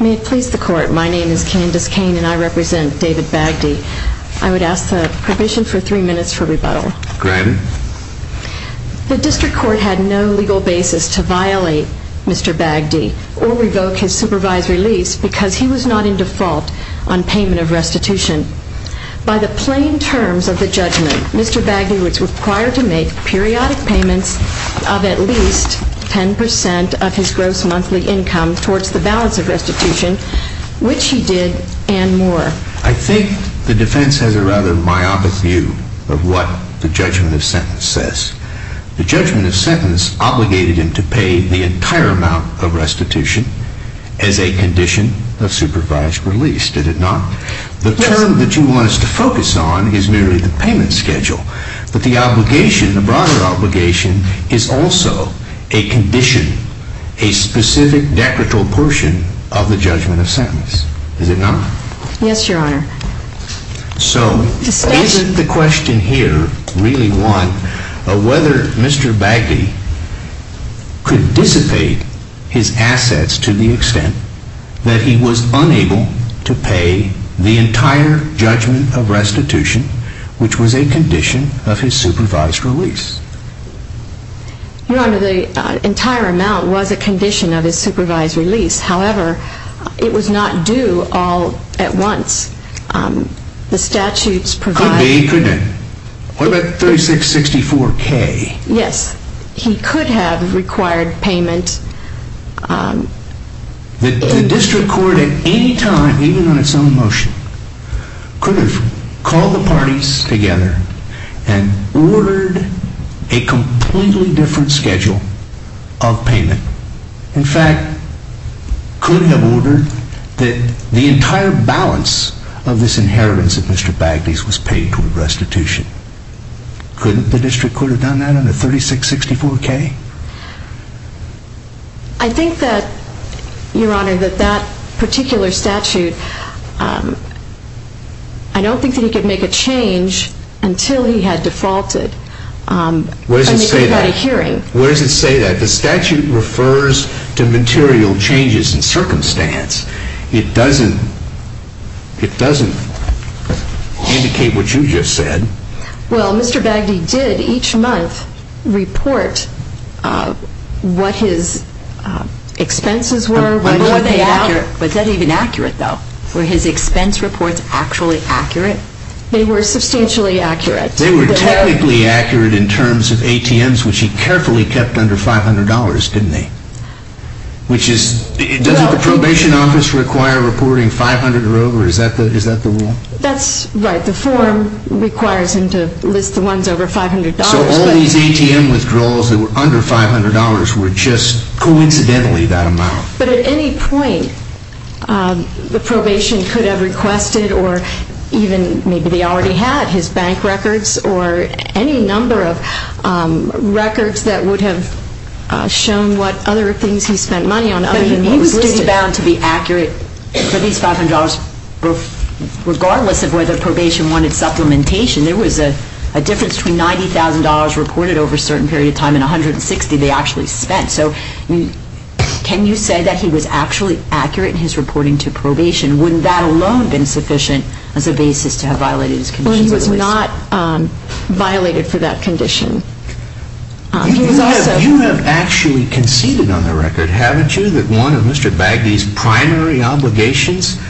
May it please the court, my name is Candace Kane and I represent David Bagdy. I would ask the provision for three minutes for rebuttal. Granted. The district court had no legal basis to violate Mr. Bagdy or revoke his supervisory lease because he was not in default on payment of restitution. By the plain terms of the judgment, Mr. Bagdy was required to make periodic payments of at least 10% of his gross monthly income towards the balance of restitution, which he did and more. I think the defense has a rather myopic view of what the judgment of sentence says. The judgment of sentence obligated him to pay the entire amount of restitution as a condition of supervised release, did it not? Yes. The term that you want us to focus on is merely the payment schedule, but the obligation, the broader obligation is also a condition, a specific decretal portion of the judgment of sentence, is it not? Yes, your honor. So is the question here really one of whether Mr. Bagdy could dissipate his assets to the extent that he was unable to pay the entire judgment of restitution, which was a condition of his supervised release? Your honor, the entire amount was a condition of his supervised release, however, it was not due all at once. The statutes provide... Could be, couldn't it? What about 3664K? Yes, he could have required payment... The district court at any time, even on its own motion, could have called the parties together and ordered a completely different schedule of payment. In fact, could have ordered that the entire balance of this inheritance of Mr. Bagdy's was paid toward restitution. Couldn't the district court have done that under 3664K? I think that, your honor, that that particular statute, I don't think that he could make a change until he had defaulted. Where does it say that? And he could have had a hearing. Where does it say that? The statute refers to material changes in circumstance. It doesn't, it doesn't indicate what you just said. Well, Mr. Bagdy did each month report what his expenses were. Were they accurate? Was that even accurate, though? Were his expense reports actually accurate? They were substantially accurate. They were technically accurate in terms of ATMs, which he carefully kept under $500, didn't he? Which is, doesn't the probation office require reporting 500 or over? Is that the rule? That's right. The form requires him to list the ones over $500. So all these ATM withdrawals that were under $500 were just coincidentally that amount? But at any point, the probation could have requested or even maybe they already had his bank records or any number of records that would have shown what other things he spent money on other than what was listed. He was bound to be accurate for these $500 regardless of whether probation wanted supplementation. There was a difference between $90,000 reported over a certain period of time and $160,000 they actually spent. So can you say that he was actually accurate in his reporting to probation? Wouldn't that alone have been sufficient as a basis to have violated his conditions? Well, he was not violated for that condition. You have actually conceded on the record, haven't you, that one of Mr. Bagdee's primary obligations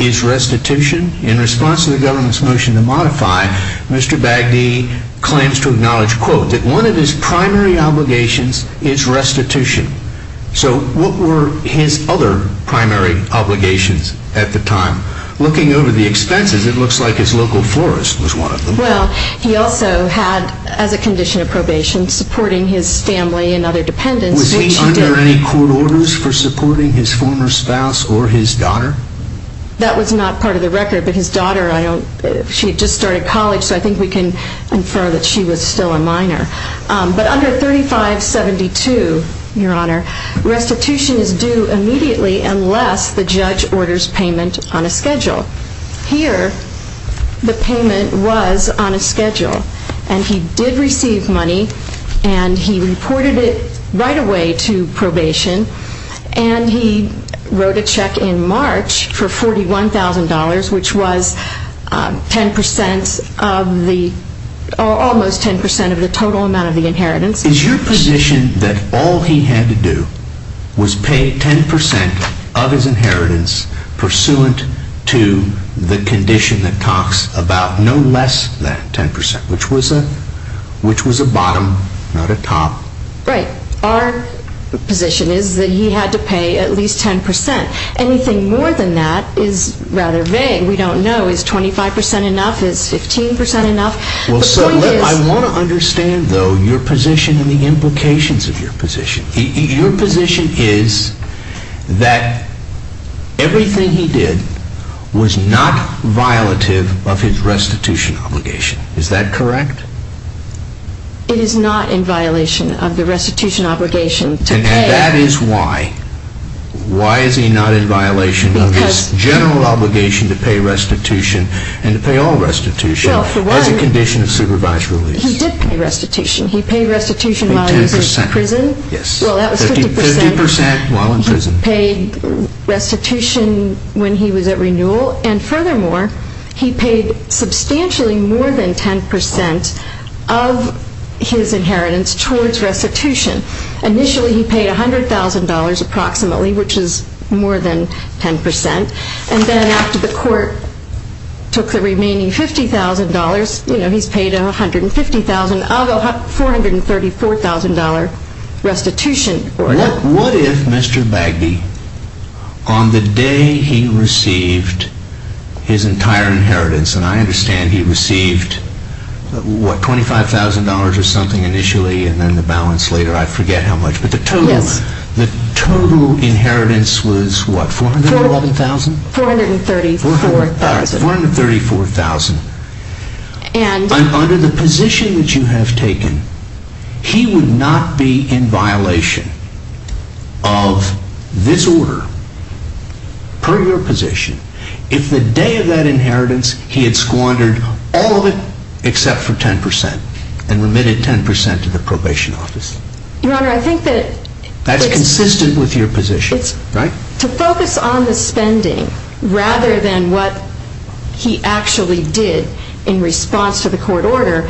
is restitution? In response to the government's motion to modify, Mr. Bagdee claims to acknowledge, quote, that one of his primary obligations is restitution. So what were his other primary obligations at the time? Looking over the expenses, it looks like his local florist was one of them. Well, he also had, as a condition of probation, supporting his family and other dependents. Was he under any court orders for supporting his former spouse or his daughter? That was not part of the record, but his daughter, she had just started college, so I think we can infer that she was still a minor. But under 3572, Your Honor, restitution is due immediately unless the judge orders payment on a schedule. Here, the payment was on a schedule, and he did receive money, and he reported it right away to probation, and he wrote a check in March for $41,000, which was almost 10% of the total amount of the inheritance. Is your position that all he had to do was pay 10% of his inheritance pursuant to the condition that talks about no less than 10%, which was a bottom, not a top? Right. Our position is that he had to pay at least 10%. Anything more than that is rather vague. We don't know, is 25% enough, is 15% enough? I want to understand, though, your position and the implications of your position. Your position is that everything he did was not violative of his restitution obligation. Is that correct? It is not in violation of the restitution obligation to pay. And that is why. Why is he not in violation of his general obligation to pay restitution and to pay all restitution? He did pay restitution. He paid restitution while he was in prison. 50% while in prison. He paid restitution when he was at renewal, and furthermore, he paid substantially more than 10% of his inheritance towards restitution. Initially, he paid $100,000 approximately, which is more than 10%. And then after the court took the remaining $50,000, you know, he's paid $150,000 of a $434,000 restitution. What if Mr. Bagby, on the day he received his entire inheritance, and I understand he received, what, $25,000 or something initially and then the balance later? I forget how much, but the total inheritance was what? $411,000? $434,000. $434,000. Under the position that you have taken, he would not be in violation of this order per your position if the day of that inheritance he had squandered all of it except for 10% and remitted 10% to the probation office. Your Honor, I think that... That's consistent with your position, right? To focus on the spending rather than what he actually did in response to the court order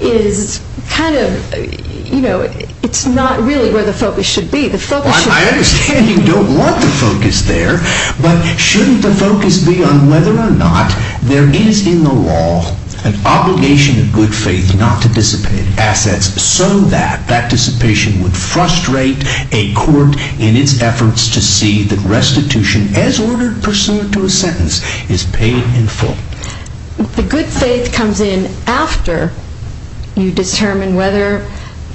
is kind of, you know, it's not really where the focus should be. I understand you don't want the focus there, but shouldn't the focus be on whether or not there is in the law an obligation of good faith not to dissipate assets so that that dissipation would frustrate a court in its efforts to see that restitution, as ordered pursuant to a sentence, is paid in full? The good faith comes in after you determine whether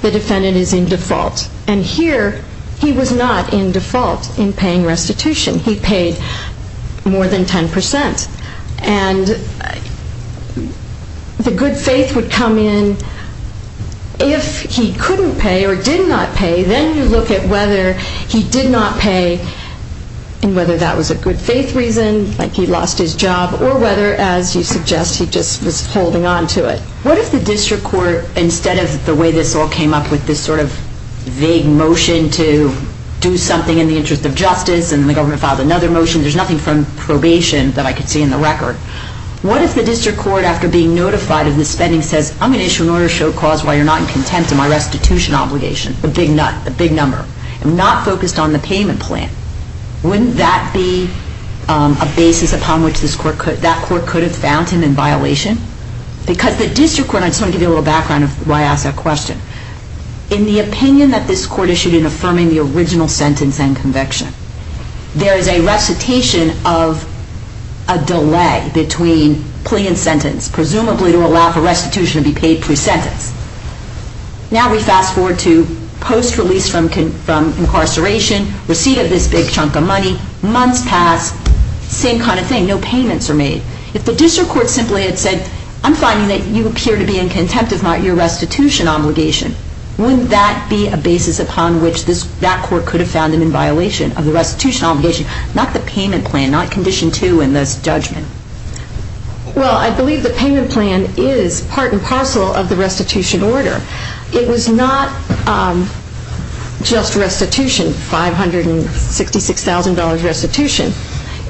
the defendant is in default, and here he was not in default in paying restitution. He paid more than 10%, and the good faith would come in if he couldn't pay or did not pay. Then you look at whether he did not pay and whether that was a good faith reason, like he lost his job, or whether, as you suggest, he just was holding on to it. What if the district court, instead of the way this all came up with this sort of vague motion to do something in the interest of justice, and the government filed another motion, there's nothing from probation that I could see in the record. What if the district court, after being notified of the spending, says, I'm going to issue an order to show cause while you're not in contempt of my restitution obligation, a big number, and not focused on the payment plan? Wouldn't that be a basis upon which that court could have found him in violation? Because the district court, and I just want to give you a little background of why I ask that question. In the opinion that this court issued in affirming the original sentence and conviction, there is a recitation of a delay between plea and sentence, presumably to allow for restitution to be paid pre-sentence. Now we fast forward to post-release from incarceration, receipt of this big chunk of money, months pass, same kind of thing, no payments are made. If the district court simply had said, I'm finding that you appear to be in contempt of your restitution obligation, wouldn't that be a basis upon which that court could have found him in violation of the restitution obligation, not the payment plan, not condition two in this judgment? Well, I believe the payment plan is part and parcel of the restitution order. It was not just restitution, $566,000 restitution.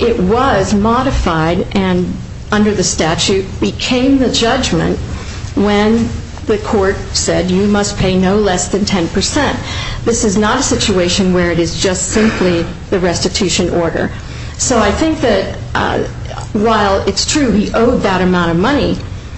It was modified and under the statute became the judgment when the court said you must pay no less than 10%. This is not a situation where it is just simply the restitution order. So I think that while it's true he owed that amount of money,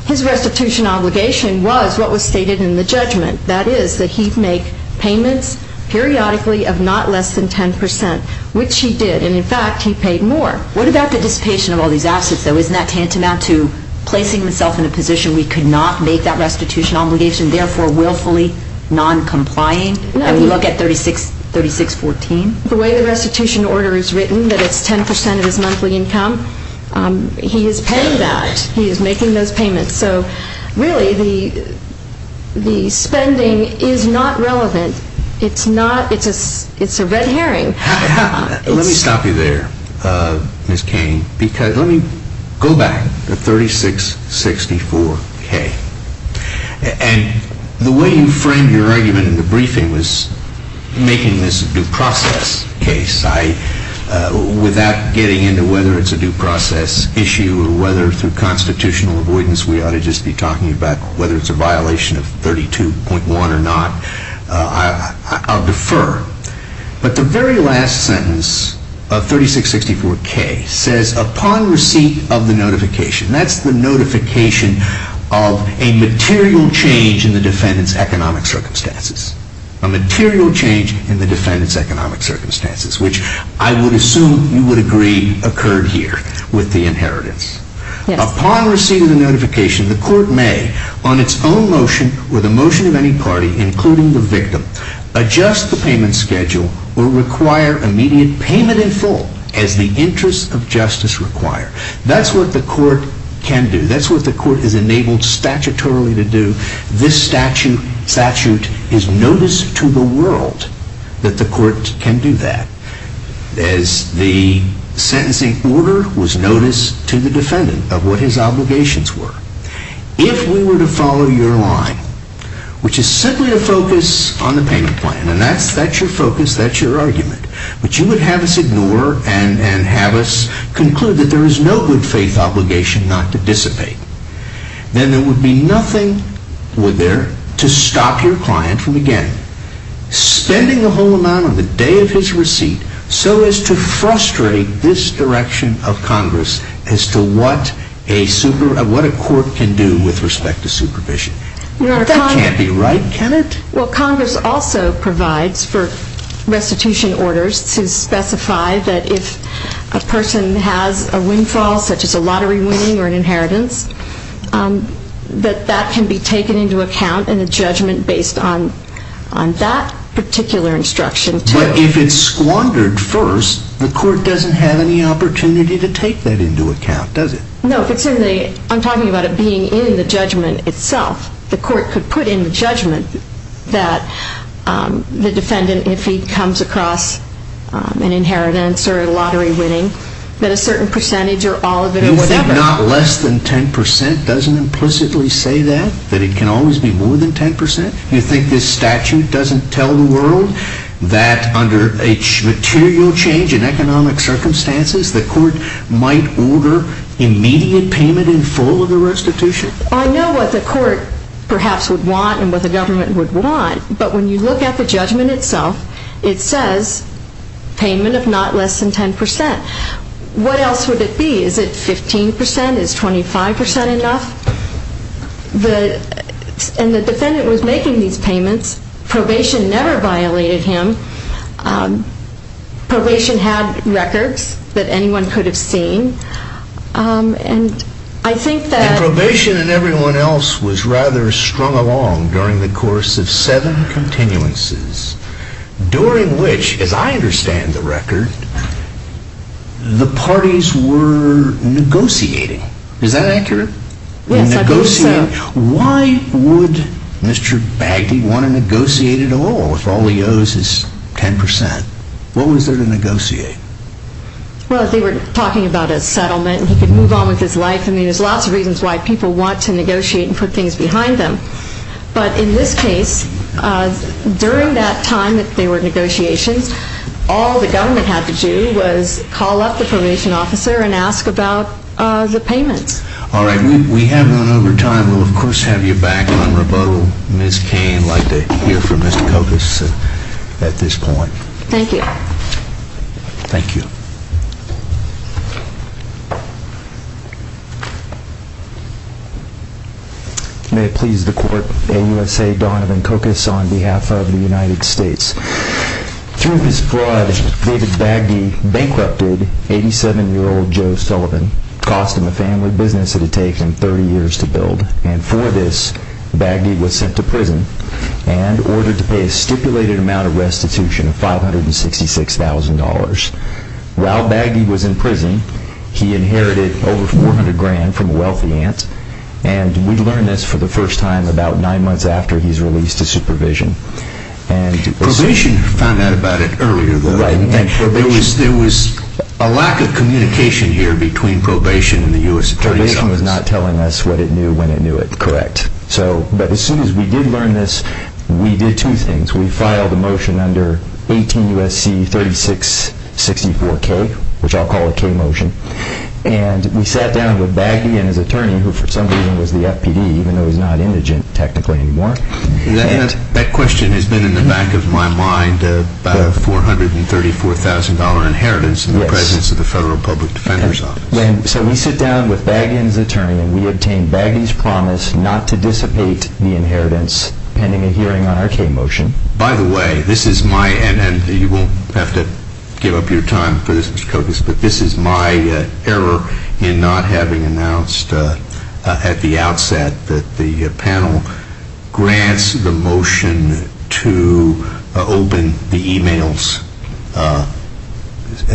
his restitution obligation was what was stated in the judgment. That is that he'd make payments periodically of not less than 10%, which he did. And in fact, he paid more. What about the dissipation of all these assets, though? Isn't that tantamount to placing himself in a position we could not make that restitution obligation, therefore willfully non-complying? No. And we look at 3614? The way the restitution order is written, that it's 10% of his monthly income, he is paying that. He is making those payments. So really the spending is not relevant. It's a red herring. Let me stop you there, Ms. Cain, because let me go back to 3664K. And the way you framed your argument in the briefing was making this a due process case. Without getting into whether it's a due process issue or whether through constitutional avoidance we ought to just be talking about whether it's a violation of 32.1 or not, I'll defer. But the very last sentence of 3664K says, That's the notification of a material change in the defendant's economic circumstances. A material change in the defendant's economic circumstances, which I would assume you would agree occurred here with the inheritance. Upon receiving the notification, the court may, on its own motion or the motion of any party, including the victim, adjust the payment schedule or require immediate payment in full as the interests of justice require. That's what the court can do. That's what the court is enabled statutorily to do. This statute is notice to the world that the court can do that. As the sentencing order was notice to the defendant of what his obligations were. If we were to follow your line, which is simply to focus on the payment plan, and that's your focus, that's your argument. But you would have us ignore and have us conclude that there is no good faith obligation not to dissipate. Then there would be nothing there to stop your client from again spending a whole amount on the day of his receipt so as to frustrate this direction of Congress as to what a court can do with respect to supervision. That can't be right, can it? Well, Congress also provides for restitution orders to specify that if a person has a windfall such as a lottery winning or an inheritance, that that can be taken into account in a judgment based on that particular instruction. But if it's squandered first, the court doesn't have any opportunity to take that into account, does it? No, I'm talking about it being in the judgment itself. The court could put in the judgment that the defendant, if he comes across an inheritance or a lottery winning, that a certain percentage or all of it or whatever. You think not less than 10% doesn't implicitly say that? That it can always be more than 10%? You think this statute doesn't tell the world that under a material change in economic circumstances, the court might order immediate payment in full of the restitution? I know what the court perhaps would want and what the government would want. But when you look at the judgment itself, it says payment of not less than 10%. What else would it be? Is it 15%? Is 25% enough? And the defendant was making these payments. Probation never violated him. Probation had records that anyone could have seen. And I think that... And probation and everyone else was rather strung along during the course of seven continuances, during which, as I understand the record, the parties were negotiating. Is that accurate? Yes, I believe so. Why would Mr. Bagdy want to negotiate at all if all he owes is 10%? What was there to negotiate? Well, they were talking about a settlement. He could move on with his life. I mean, there's lots of reasons why people want to negotiate and put things behind them. But in this case, during that time that there were negotiations, all the government had to do was call up the probation officer and ask about the payments. All right. We have run over time. We'll, of course, have you back on rebuttal. Ms. Cain would like to hear from Mr. Kokos at this point. Thank you. Thank you. May it please the court, AUSA Donovan Kokos on behalf of the United States. Through his fraud, David Bagdy bankrupted 87-year-old Joe Sullivan, costing the family business it had taken 30 years to build. And for this, Bagdy was sent to prison and ordered to pay a stipulated amount of restitution of $566,000. While Bagdy was in prison, he inherited over $400,000 from a wealthy aunt. And we learned this for the first time about nine months after he was released to supervision. Probation found out about it earlier, though. Right. There was a lack of communication here between probation and the U.S. Attorney's Office. Probation was not telling us what it knew when it knew it correct. But as soon as we did learn this, we did two things. We filed a motion under 18 U.S.C. 3664K, which I'll call a K motion. And we sat down with Bagdy and his attorney, who for some reason was the FPD, even though he's not indigent technically anymore. That question has been in the back of my mind about a $434,000 inheritance in the presence of the Federal Public Defender's Office. So we sit down with Bagdy and his attorney and we obtain Bagdy's promise not to dissipate the inheritance pending a hearing on our K motion. By the way, this is my, and you won't have to give up your time for this, Mr. Kokos, but this is my error in not having announced at the outset that the panel grants the motion to open the e-mails.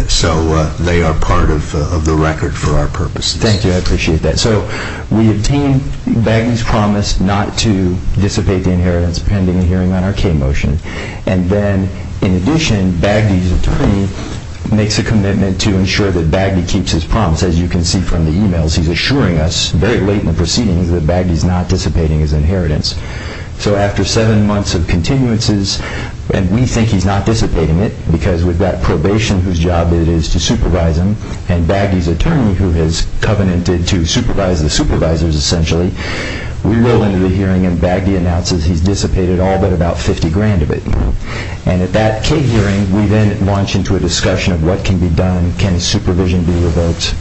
So they are part of the record for our purposes. Thank you. I appreciate that. So we obtain Bagdy's promise not to dissipate the inheritance pending a hearing on our K motion. And then in addition, Bagdy's attorney makes a commitment to ensure that Bagdy keeps his promise. As you can see from the e-mails, he's assuring us very late in the proceedings that Bagdy's not dissipating his inheritance. So after seven months of continuances, and we think he's not dissipating it because we've got probation whose job it is to supervise him, and Bagdy's attorney who has covenanted to supervise the supervisors essentially, we roll into the hearing and Bagdy announces he's dissipated all but about $50,000 of it. And at that K hearing, we then launch into a discussion of what can be done. Can supervision be revoked?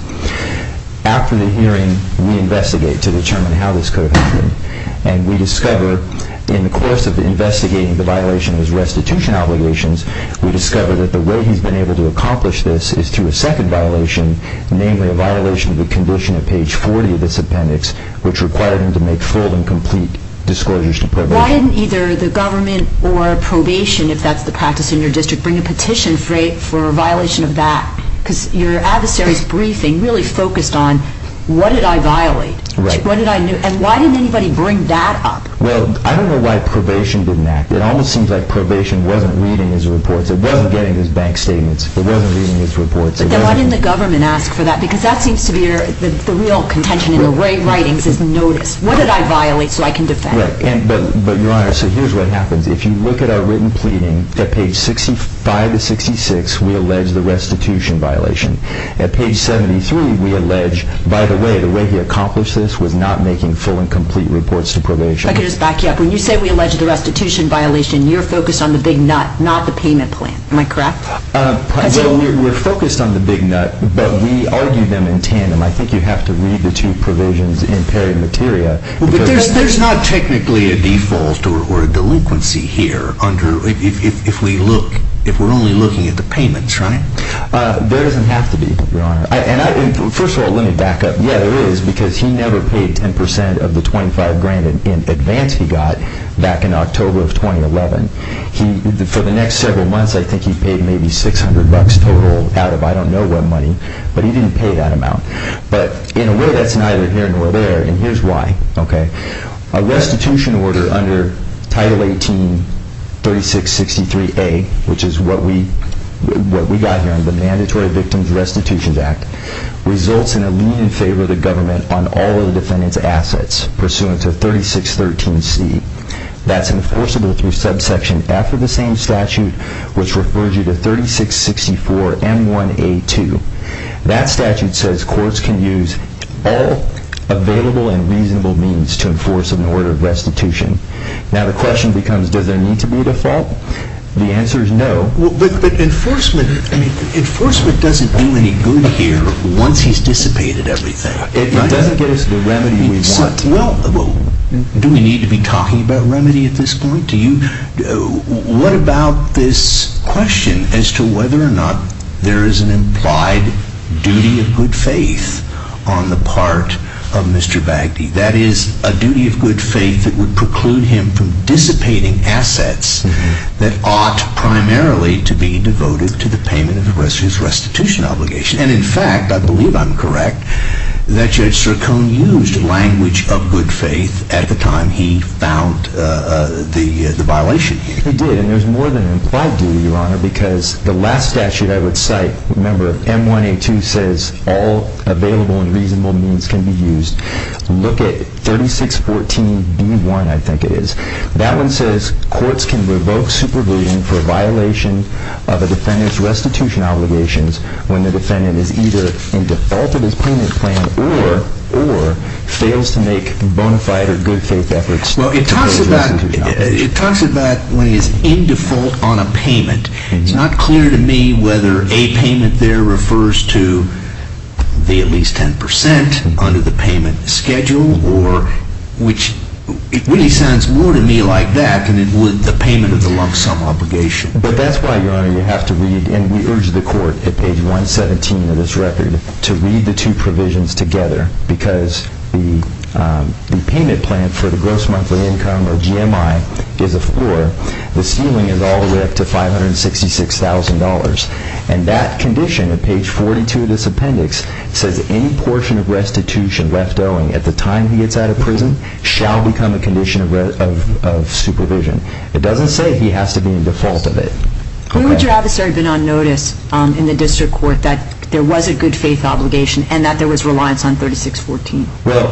After the hearing, we investigate to determine how this could have happened. And we discover in the course of investigating the violation of his restitution obligations, we discover that the way he's been able to accomplish this is through a second violation, namely a violation of the condition at page 40 of this appendix, which required him to make full and complete disclosures to probation. Why didn't either the government or probation, if that's the practice in your district, bring a petition for a violation of that? Because your adversary's briefing really focused on what did I violate? Right. And why didn't anybody bring that up? Well, I don't know why probation didn't act. It almost seems like probation wasn't reading his reports. It wasn't getting his bank statements. It wasn't reading his reports. Then why didn't the government ask for that? Because that seems to be the real contention in the writings is notice. What did I violate so I can defend? But, Your Honor, so here's what happens. If you look at our written pleading, at page 65 to 66, we allege the restitution violation. At page 73, we allege, by the way, the way he accomplished this was not making full and complete reports to probation. I can just back you up. When you say we allege the restitution violation, you're focused on the big nut, not the payment plan. Am I correct? Well, we're focused on the big nut, but we argued them in tandem. I think you have to read the two provisions in peri materia. But there's not technically a default or a delinquency here if we're only looking at the payments, right? There doesn't have to be, Your Honor. First of all, let me back up. Yeah, there is because he never paid 10% of the $25,000 in advance he got back in October of 2011. For the next several months, I think he paid maybe $600 total out of I don't know what money, but he didn't pay that amount. But in a way, that's neither here nor there, and here's why. A restitution order under Title 18-3663A, which is what we got here under the Mandatory Victims Restitutions Act, results in a lien in favor of the government on all of the defendant's assets pursuant to 3613C. That's enforceable through subsection F of the same statute, which refers you to 3664M1A2. That statute says courts can use all available and reasonable means to enforce an order of restitution. Now the question becomes, does there need to be a default? The answer is no. But enforcement doesn't do any good here once he's dissipated everything, right? It doesn't give us the remedy we want. Well, do we need to be talking about remedy at this point? What about this question as to whether or not there is an implied duty of good faith on the part of Mr. Bagdy? That is, a duty of good faith that would preclude him from dissipating assets that ought primarily to be devoted to the payment of his restitution obligation. And in fact, I believe I'm correct, that Judge Sircone used language of good faith at the time he found the violation. He did, and there's more than an implied duty, Your Honor, because the last statute I would cite, remember, M1A2 says all available and reasonable means can be used. Look at 3614B1, I think it is. That one says courts can revoke supervision for violation of a defendant's restitution obligations when the defendant is either in default of his payment plan or fails to make bona fide or good faith efforts to pay his restitution obligation. Well, it talks about when he is in default on a payment. It's not clear to me whether a payment there refers to the at least 10% under the payment schedule, which really sounds more to me like that than it would the payment of the lump sum obligation. But that's why, Your Honor, you have to read, and we urge the court at page 117 of this record, to read the two provisions together because the payment plan for the gross monthly income, or GMI, is a four. The ceiling is all the way up to $566,000. And that condition at page 42 of this appendix says any portion of restitution left owing at the time he gets out of prison shall become a condition of supervision. It doesn't say he has to be in default of it. When would your adversary have been on notice in the district court that there was a good faith obligation and that there was reliance on 3614? Well,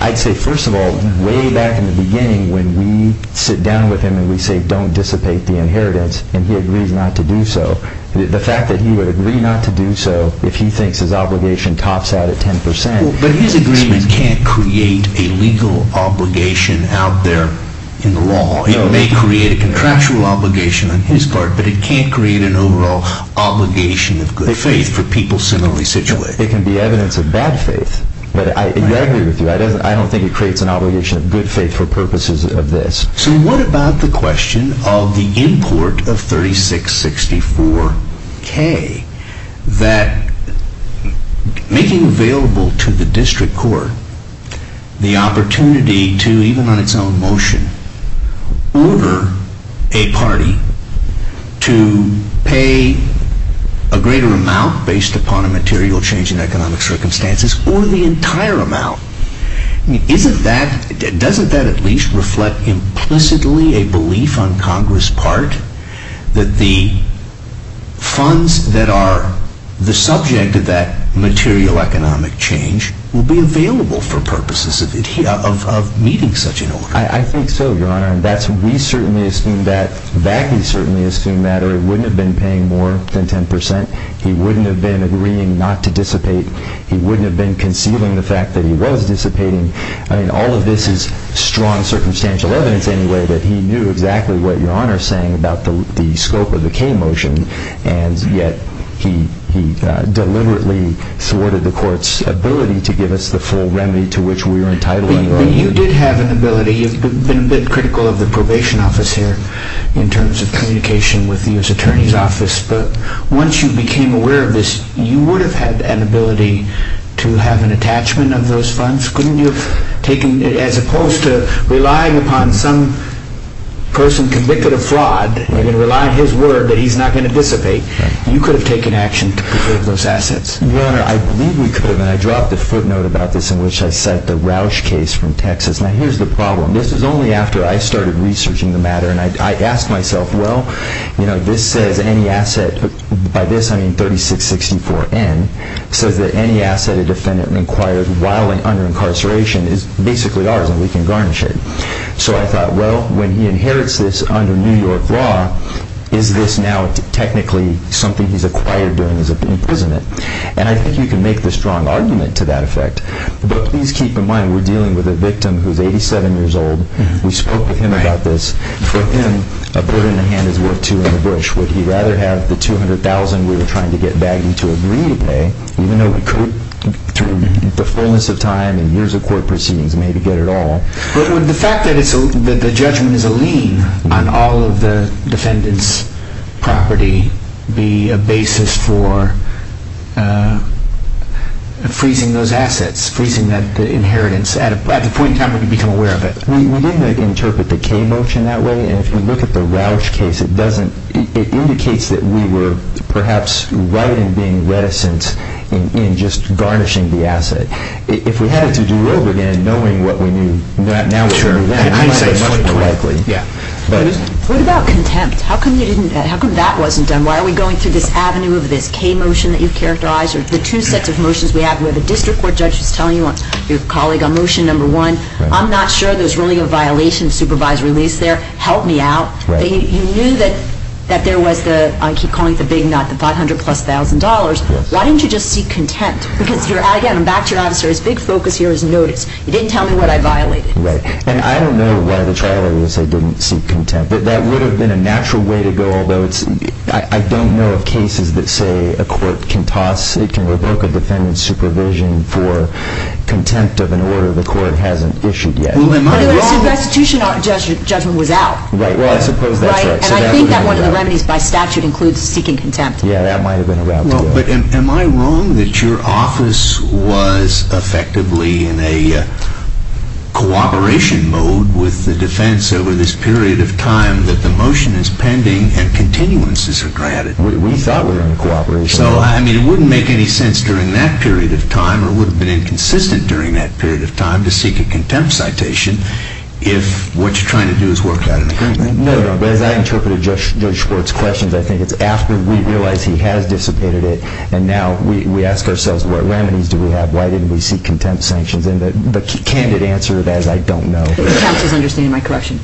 I'd say, first of all, way back in the beginning when we sit down with him and we say, and he agrees not to do so. The fact that he would agree not to do so if he thinks his obligation tops out at 10%. But his agreement can't create a legal obligation out there in the law. It may create a contractual obligation on his part, but it can't create an overall obligation of good faith for people similarly situated. It can be evidence of bad faith. But I agree with you. I don't think it creates an obligation of good faith for purposes of this. So what about the question of the import of 3664K? That making available to the district court the opportunity to, even on its own motion, order a party to pay a greater amount based upon a material change in economic circumstances or the entire amount. Doesn't that at least reflect implicitly a belief on Congress' part that the funds that are the subject of that material economic change will be available for purposes of meeting such an order? I think so, Your Honor. We certainly assume that. Bakke certainly assumed that. Or he wouldn't have been paying more than 10%. He wouldn't have been agreeing not to dissipate. He wouldn't have been concealing the fact that he was dissipating. I mean, all of this is strong circumstantial evidence, anyway, that he knew exactly what Your Honor is saying about the scope of the K motion, and yet he deliberately thwarted the court's ability to give us the full remedy to which we were entitled anyway. You did have an ability. You've been a bit critical of the probation office here in terms of communication with the U.S. Attorney's Office. But once you became aware of this, you would have had an ability to have an attachment of those funds, as opposed to relying upon some person convicted of fraud and relying on his word that he's not going to dissipate. You could have taken action to preserve those assets. Your Honor, I believe we could have. And I dropped a footnote about this in which I cite the Roush case from Texas. Now, here's the problem. This is only after I started researching the matter. And I asked myself, well, you know, this says any asset, by this I mean 3664N, says that any asset a defendant requires while under incarceration is basically ours and we can garnish it. So I thought, well, when he inherits this under New York law, is this now technically something he's acquired during his imprisonment? And I think you can make the strong argument to that effect. But please keep in mind we're dealing with a victim who's 87 years old. We spoke with him about this. For him, a bird in the hand is worth two in the bush. Would he rather have the $200,000 we were trying to get bagged into agreeing to pay, even though we could, through the fullness of time and years of court proceedings, maybe get it all? But would the fact that the judgment is a lien on all of the defendant's property be a basis for freezing those assets, freezing the inheritance, at the point in time when we become aware of it? We didn't interpret the K motion that way. And if you look at the Roush case, it doesn't. It indicates that we were perhaps right in being reticent in just garnishing the asset. If we had to do it over again, knowing what we knew now would be much more likely. What about contempt? How come that wasn't done? Why are we going through this avenue of this K motion that you've characterized The two sets of motions we have where the district court judge is telling your colleague on motion number one, I'm not sure there's really a violation of supervisory lease there. Help me out. You knew that there was the, I keep calling it the big nut, the $500,000-plus. Why didn't you just seek contempt? Because, again, back to your answer, his big focus here is notice. He didn't tell me what I violated. And I don't know why the trial lawyer said didn't seek contempt. That would have been a natural way to go, although I don't know of cases that say a court can toss, it can revoke a defendant's supervision for contempt of an order the court hasn't issued yet. But the restitution judgment was out. Right. Well, I suppose that's right. And I think that one of the remedies by statute includes seeking contempt. Yeah, that might have been a route to go. But am I wrong that your office was effectively in a cooperation mode with the defense over this period of time that the motion is pending and continuances are granted? We thought we were in cooperation. So, I mean, it wouldn't make any sense during that period of time or would have been inconsistent during that period of time to seek a contempt citation if what you're trying to do is work out an agreement. No, no. But as I interpreted Judge Schwartz's questions, I think it's after we realize he has dissipated it and now we ask ourselves what remedies do we have, why didn't we seek contempt sanctions? And the candid answer is, I don't know. The counsel is understanding my question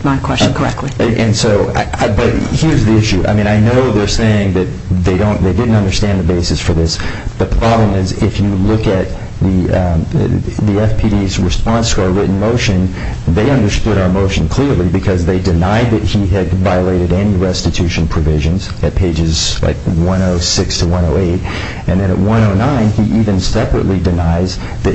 correctly. And so, but here's the issue. I mean, I know they're saying that they didn't understand the basis for this. The problem is if you look at the FPD's response to our written motion, they understood our motion clearly because they denied that he had violated any restitution provisions at pages 106 to 108. And then at 109, he even separately denies that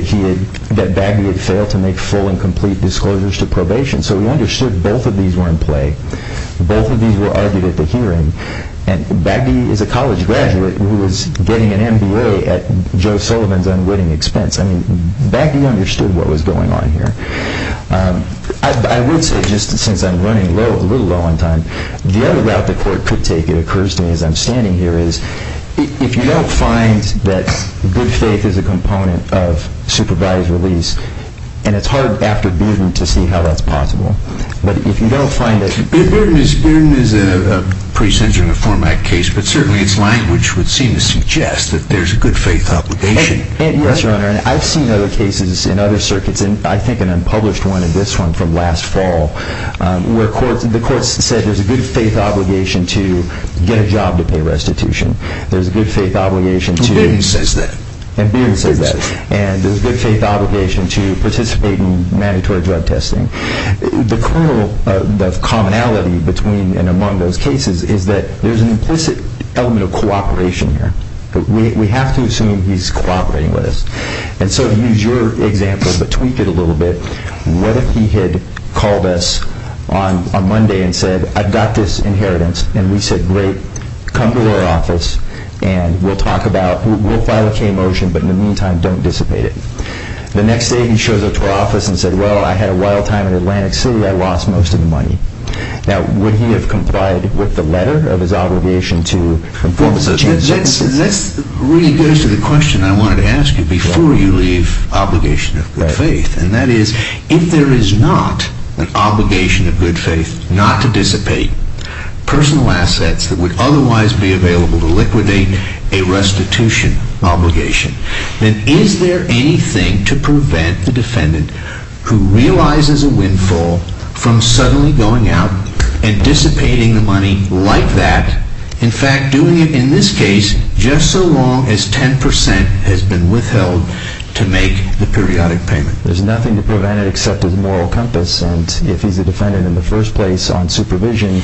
Bagdy had failed to make full and complete disclosures to probation. So we understood both of these were in play. Both of these were argued at the hearing. And Bagdy is a college graduate who is getting an MBA at Joe Sullivan's unwitting expense. I mean, Bagdy understood what was going on here. I would say just since I'm running low, a little low on time, the other route the court could take, it occurs to me as I'm standing here, is if you don't find that good faith is a component of supervised release, and it's hard after Bearden to see how that's possible. But if you don't find it. Bearden is a pretty sensitive format case, but certainly its language would seem to suggest that there's a good faith obligation. Yes, Your Honor. And I've seen other cases in other circuits, and I think an unpublished one in this one from last fall, where the court said there's a good faith obligation to get a job to pay restitution. There's a good faith obligation to- And Bearden says that. And Bearden says that. And there's a good faith obligation to participate in mandatory drug testing. The commonality between and among those cases is that there's an implicit element of cooperation here. We have to assume he's cooperating with us. And so to use your example, but tweak it a little bit, what if he had called us on Monday and said, I've got this inheritance, and we said, great, come to our office, and we'll talk about, we'll file a K motion, but in the meantime, don't dissipate it. The next day, he shows up to our office and said, well, I had a wild time in Atlantic City. I lost most of the money. Now, would he have complied with the letter of his obligation to- That really goes to the question I wanted to ask you before you leave obligation of good faith. And that is, if there is not an obligation of good faith not to dissipate personal assets that would otherwise be available to liquidate a restitution obligation, then is there anything to prevent the defendant who realizes a windfall from suddenly going out and dissipating the money like that, in fact, doing it in this case, just so long as 10% has been withheld to make the periodic payment? There's nothing to prevent it except his moral compass. And if he's a defendant in the first place on supervision,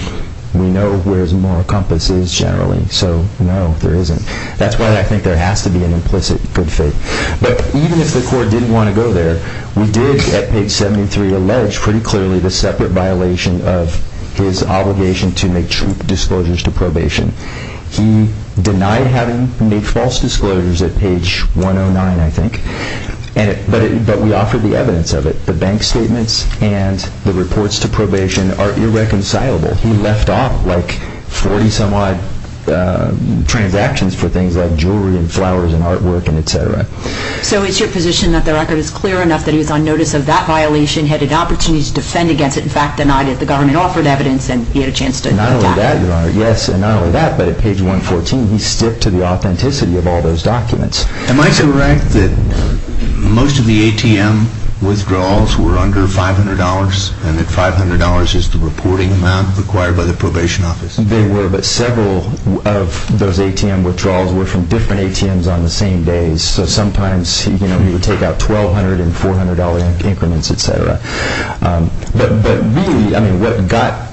we know where his moral compass is generally. So, no, there isn't. That's why I think there has to be an implicit good faith. But even if the court didn't want to go there, we did, at page 73, we allege pretty clearly the separate violation of his obligation to make true disclosures to probation. He denied having made false disclosures at page 109, I think, but we offered the evidence of it. The bank statements and the reports to probation are irreconcilable. He left off like 40-some-odd transactions for things like jewelry and flowers and artwork and et cetera. So it's your position that the record is clear enough that he was on notice of that violation, had an opportunity to defend against it, in fact, denied it. The government offered evidence and he had a chance to attack it. Not only that, Your Honor, yes, and not only that, but at page 114, he sticked to the authenticity of all those documents. Am I correct that most of the ATM withdrawals were under $500 and that $500 is the reporting amount required by the probation office? They were, but several of those ATM withdrawals were from different ATMs on the same days. So sometimes he would take out $1,200 and $400 increments, et cetera. But really, what got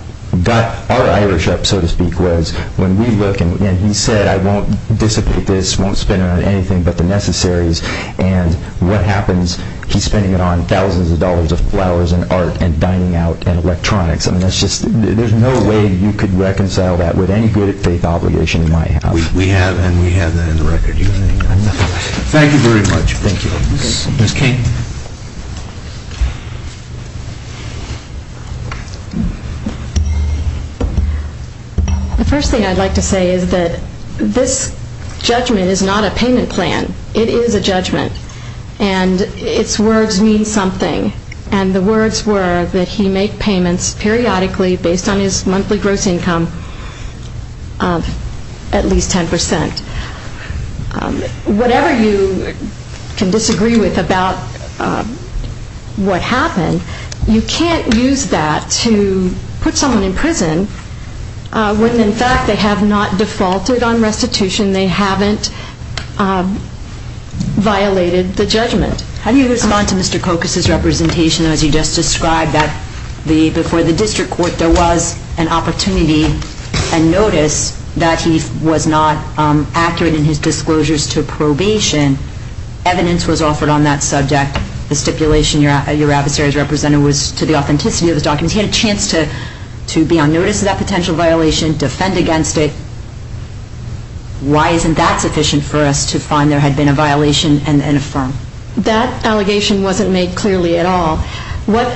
our Irish up, so to speak, was when we look and he said, I won't dissipate this, won't spend it on anything but the necessaries, and what happens, he's spending it on thousands of dollars of flowers and art and dining out and electronics. There's no way you could reconcile that with any good faith obligation in my house. We have, and we have that in the record. Thank you very much. Thank you. Ms. King. The first thing I'd like to say is that this judgment is not a payment plan. It is a judgment, and its words mean something, and the words were that he made payments periodically based on his monthly gross income of at least 10%. Whatever you can disagree with about what happened, you can't use that to put someone in prison when, in fact, they have not defaulted on restitution. They haven't violated the judgment. How do you respond to Mr. Kokas's representation, as you just described, that before the district court there was an opportunity and notice that he was not accurate in his disclosures to probation. Evidence was offered on that subject. The stipulation your adversaries represented was to the authenticity of his documents. He had a chance to be on notice of that potential violation, defend against it. Why isn't that sufficient for us to find there had been a violation and affirm? That allegation wasn't made clearly at all. What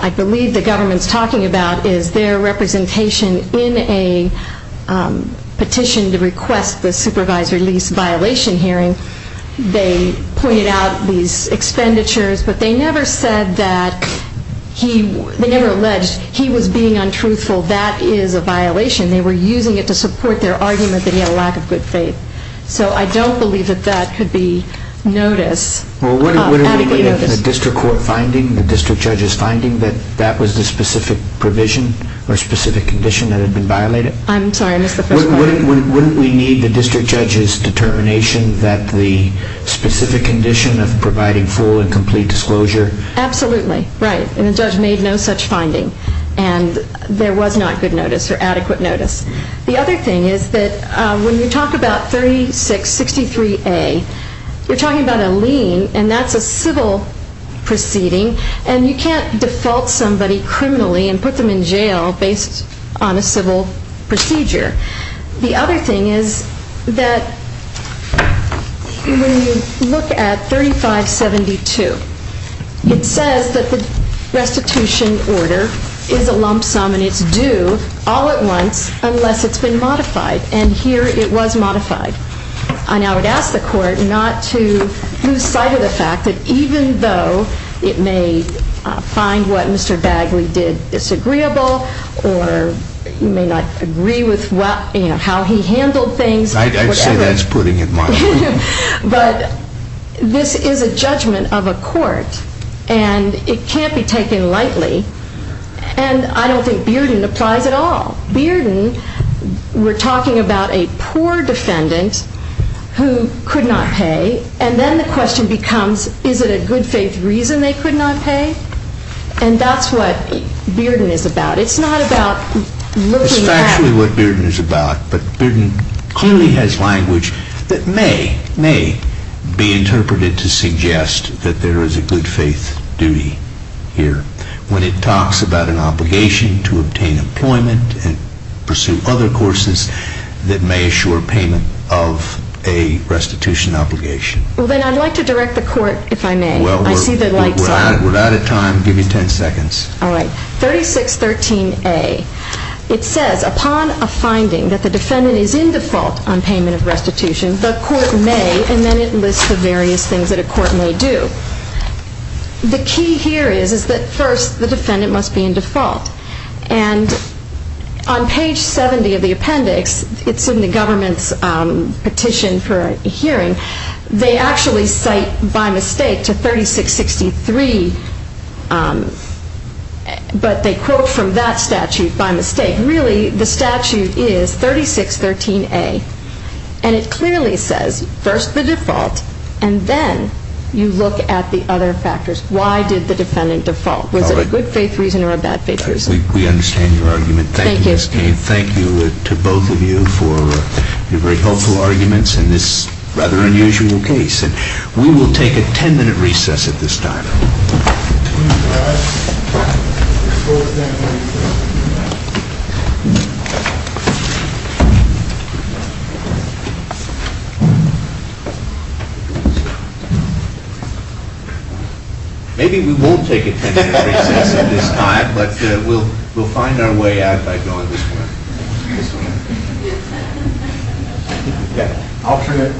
I believe the government is talking about is their representation in a petition to request the supervisory lease violation hearing. They pointed out these expenditures, but they never said that he, they never alleged he was being untruthful. That is a violation. They were using it to support their argument that he had a lack of good faith. So I don't believe that that could be notice, adequate notice. Wouldn't we need the district court finding, the district judge's finding, that that was the specific provision or specific condition that had been violated? I'm sorry, I missed the first part. Wouldn't we need the district judge's determination that the specific condition of providing full and complete disclosure? Absolutely, right. And the judge made no such finding. And there was not good notice or adequate notice. The other thing is that when you talk about 3663A, you're talking about a lien, and that's a civil proceeding, and you can't default somebody criminally and put them in jail based on a civil procedure. The other thing is that when you look at 3572, it says that the restitution order is a lump sum, and it's due all at once unless it's been modified. And here it was modified. And I would ask the court not to lose sight of the fact that even though it may find what Mr. Bagley did disagreeable or you may not agree with how he handled things. I'd say that's putting it mildly. But this is a judgment of a court, and it can't be taken lightly. And I don't think Bearden applies at all. Bearden, we're talking about a poor defendant who could not pay, and then the question becomes, is it a good faith reason they could not pay? And that's what Bearden is about. It's not about looking at. It's actually what Bearden is about. But Bearden clearly has language that may be interpreted to suggest that there is a good faith duty here when it talks about an obligation to obtain employment and pursue other courses that may assure payment of a restitution obligation. Well, then I'd like to direct the court, if I may. I see the light's on. We're out of time. Give me 10 seconds. All right. 3613A. It says, upon a finding that the defendant is in default on payment of restitution, the court may, and then it lists the various things that a court may do. The key here is that first the defendant must be in default. And on page 70 of the appendix, it's in the government's petition for a hearing, they actually cite by mistake to 3663, but they quote from that statute by mistake. Really, the statute is 3613A, and it clearly says first the default and then you look at the other factors. Why did the defendant default? Was it a good faith reason or a bad faith reason? We understand your argument. Thank you, Ms. Cain. Thank you to both of you for your very helpful arguments in this rather unusual case. And we will take a 10-minute recess at this time. Maybe we won't take a 10-minute recess at this time, but we'll find our way out by going this way. Yeah, alternate.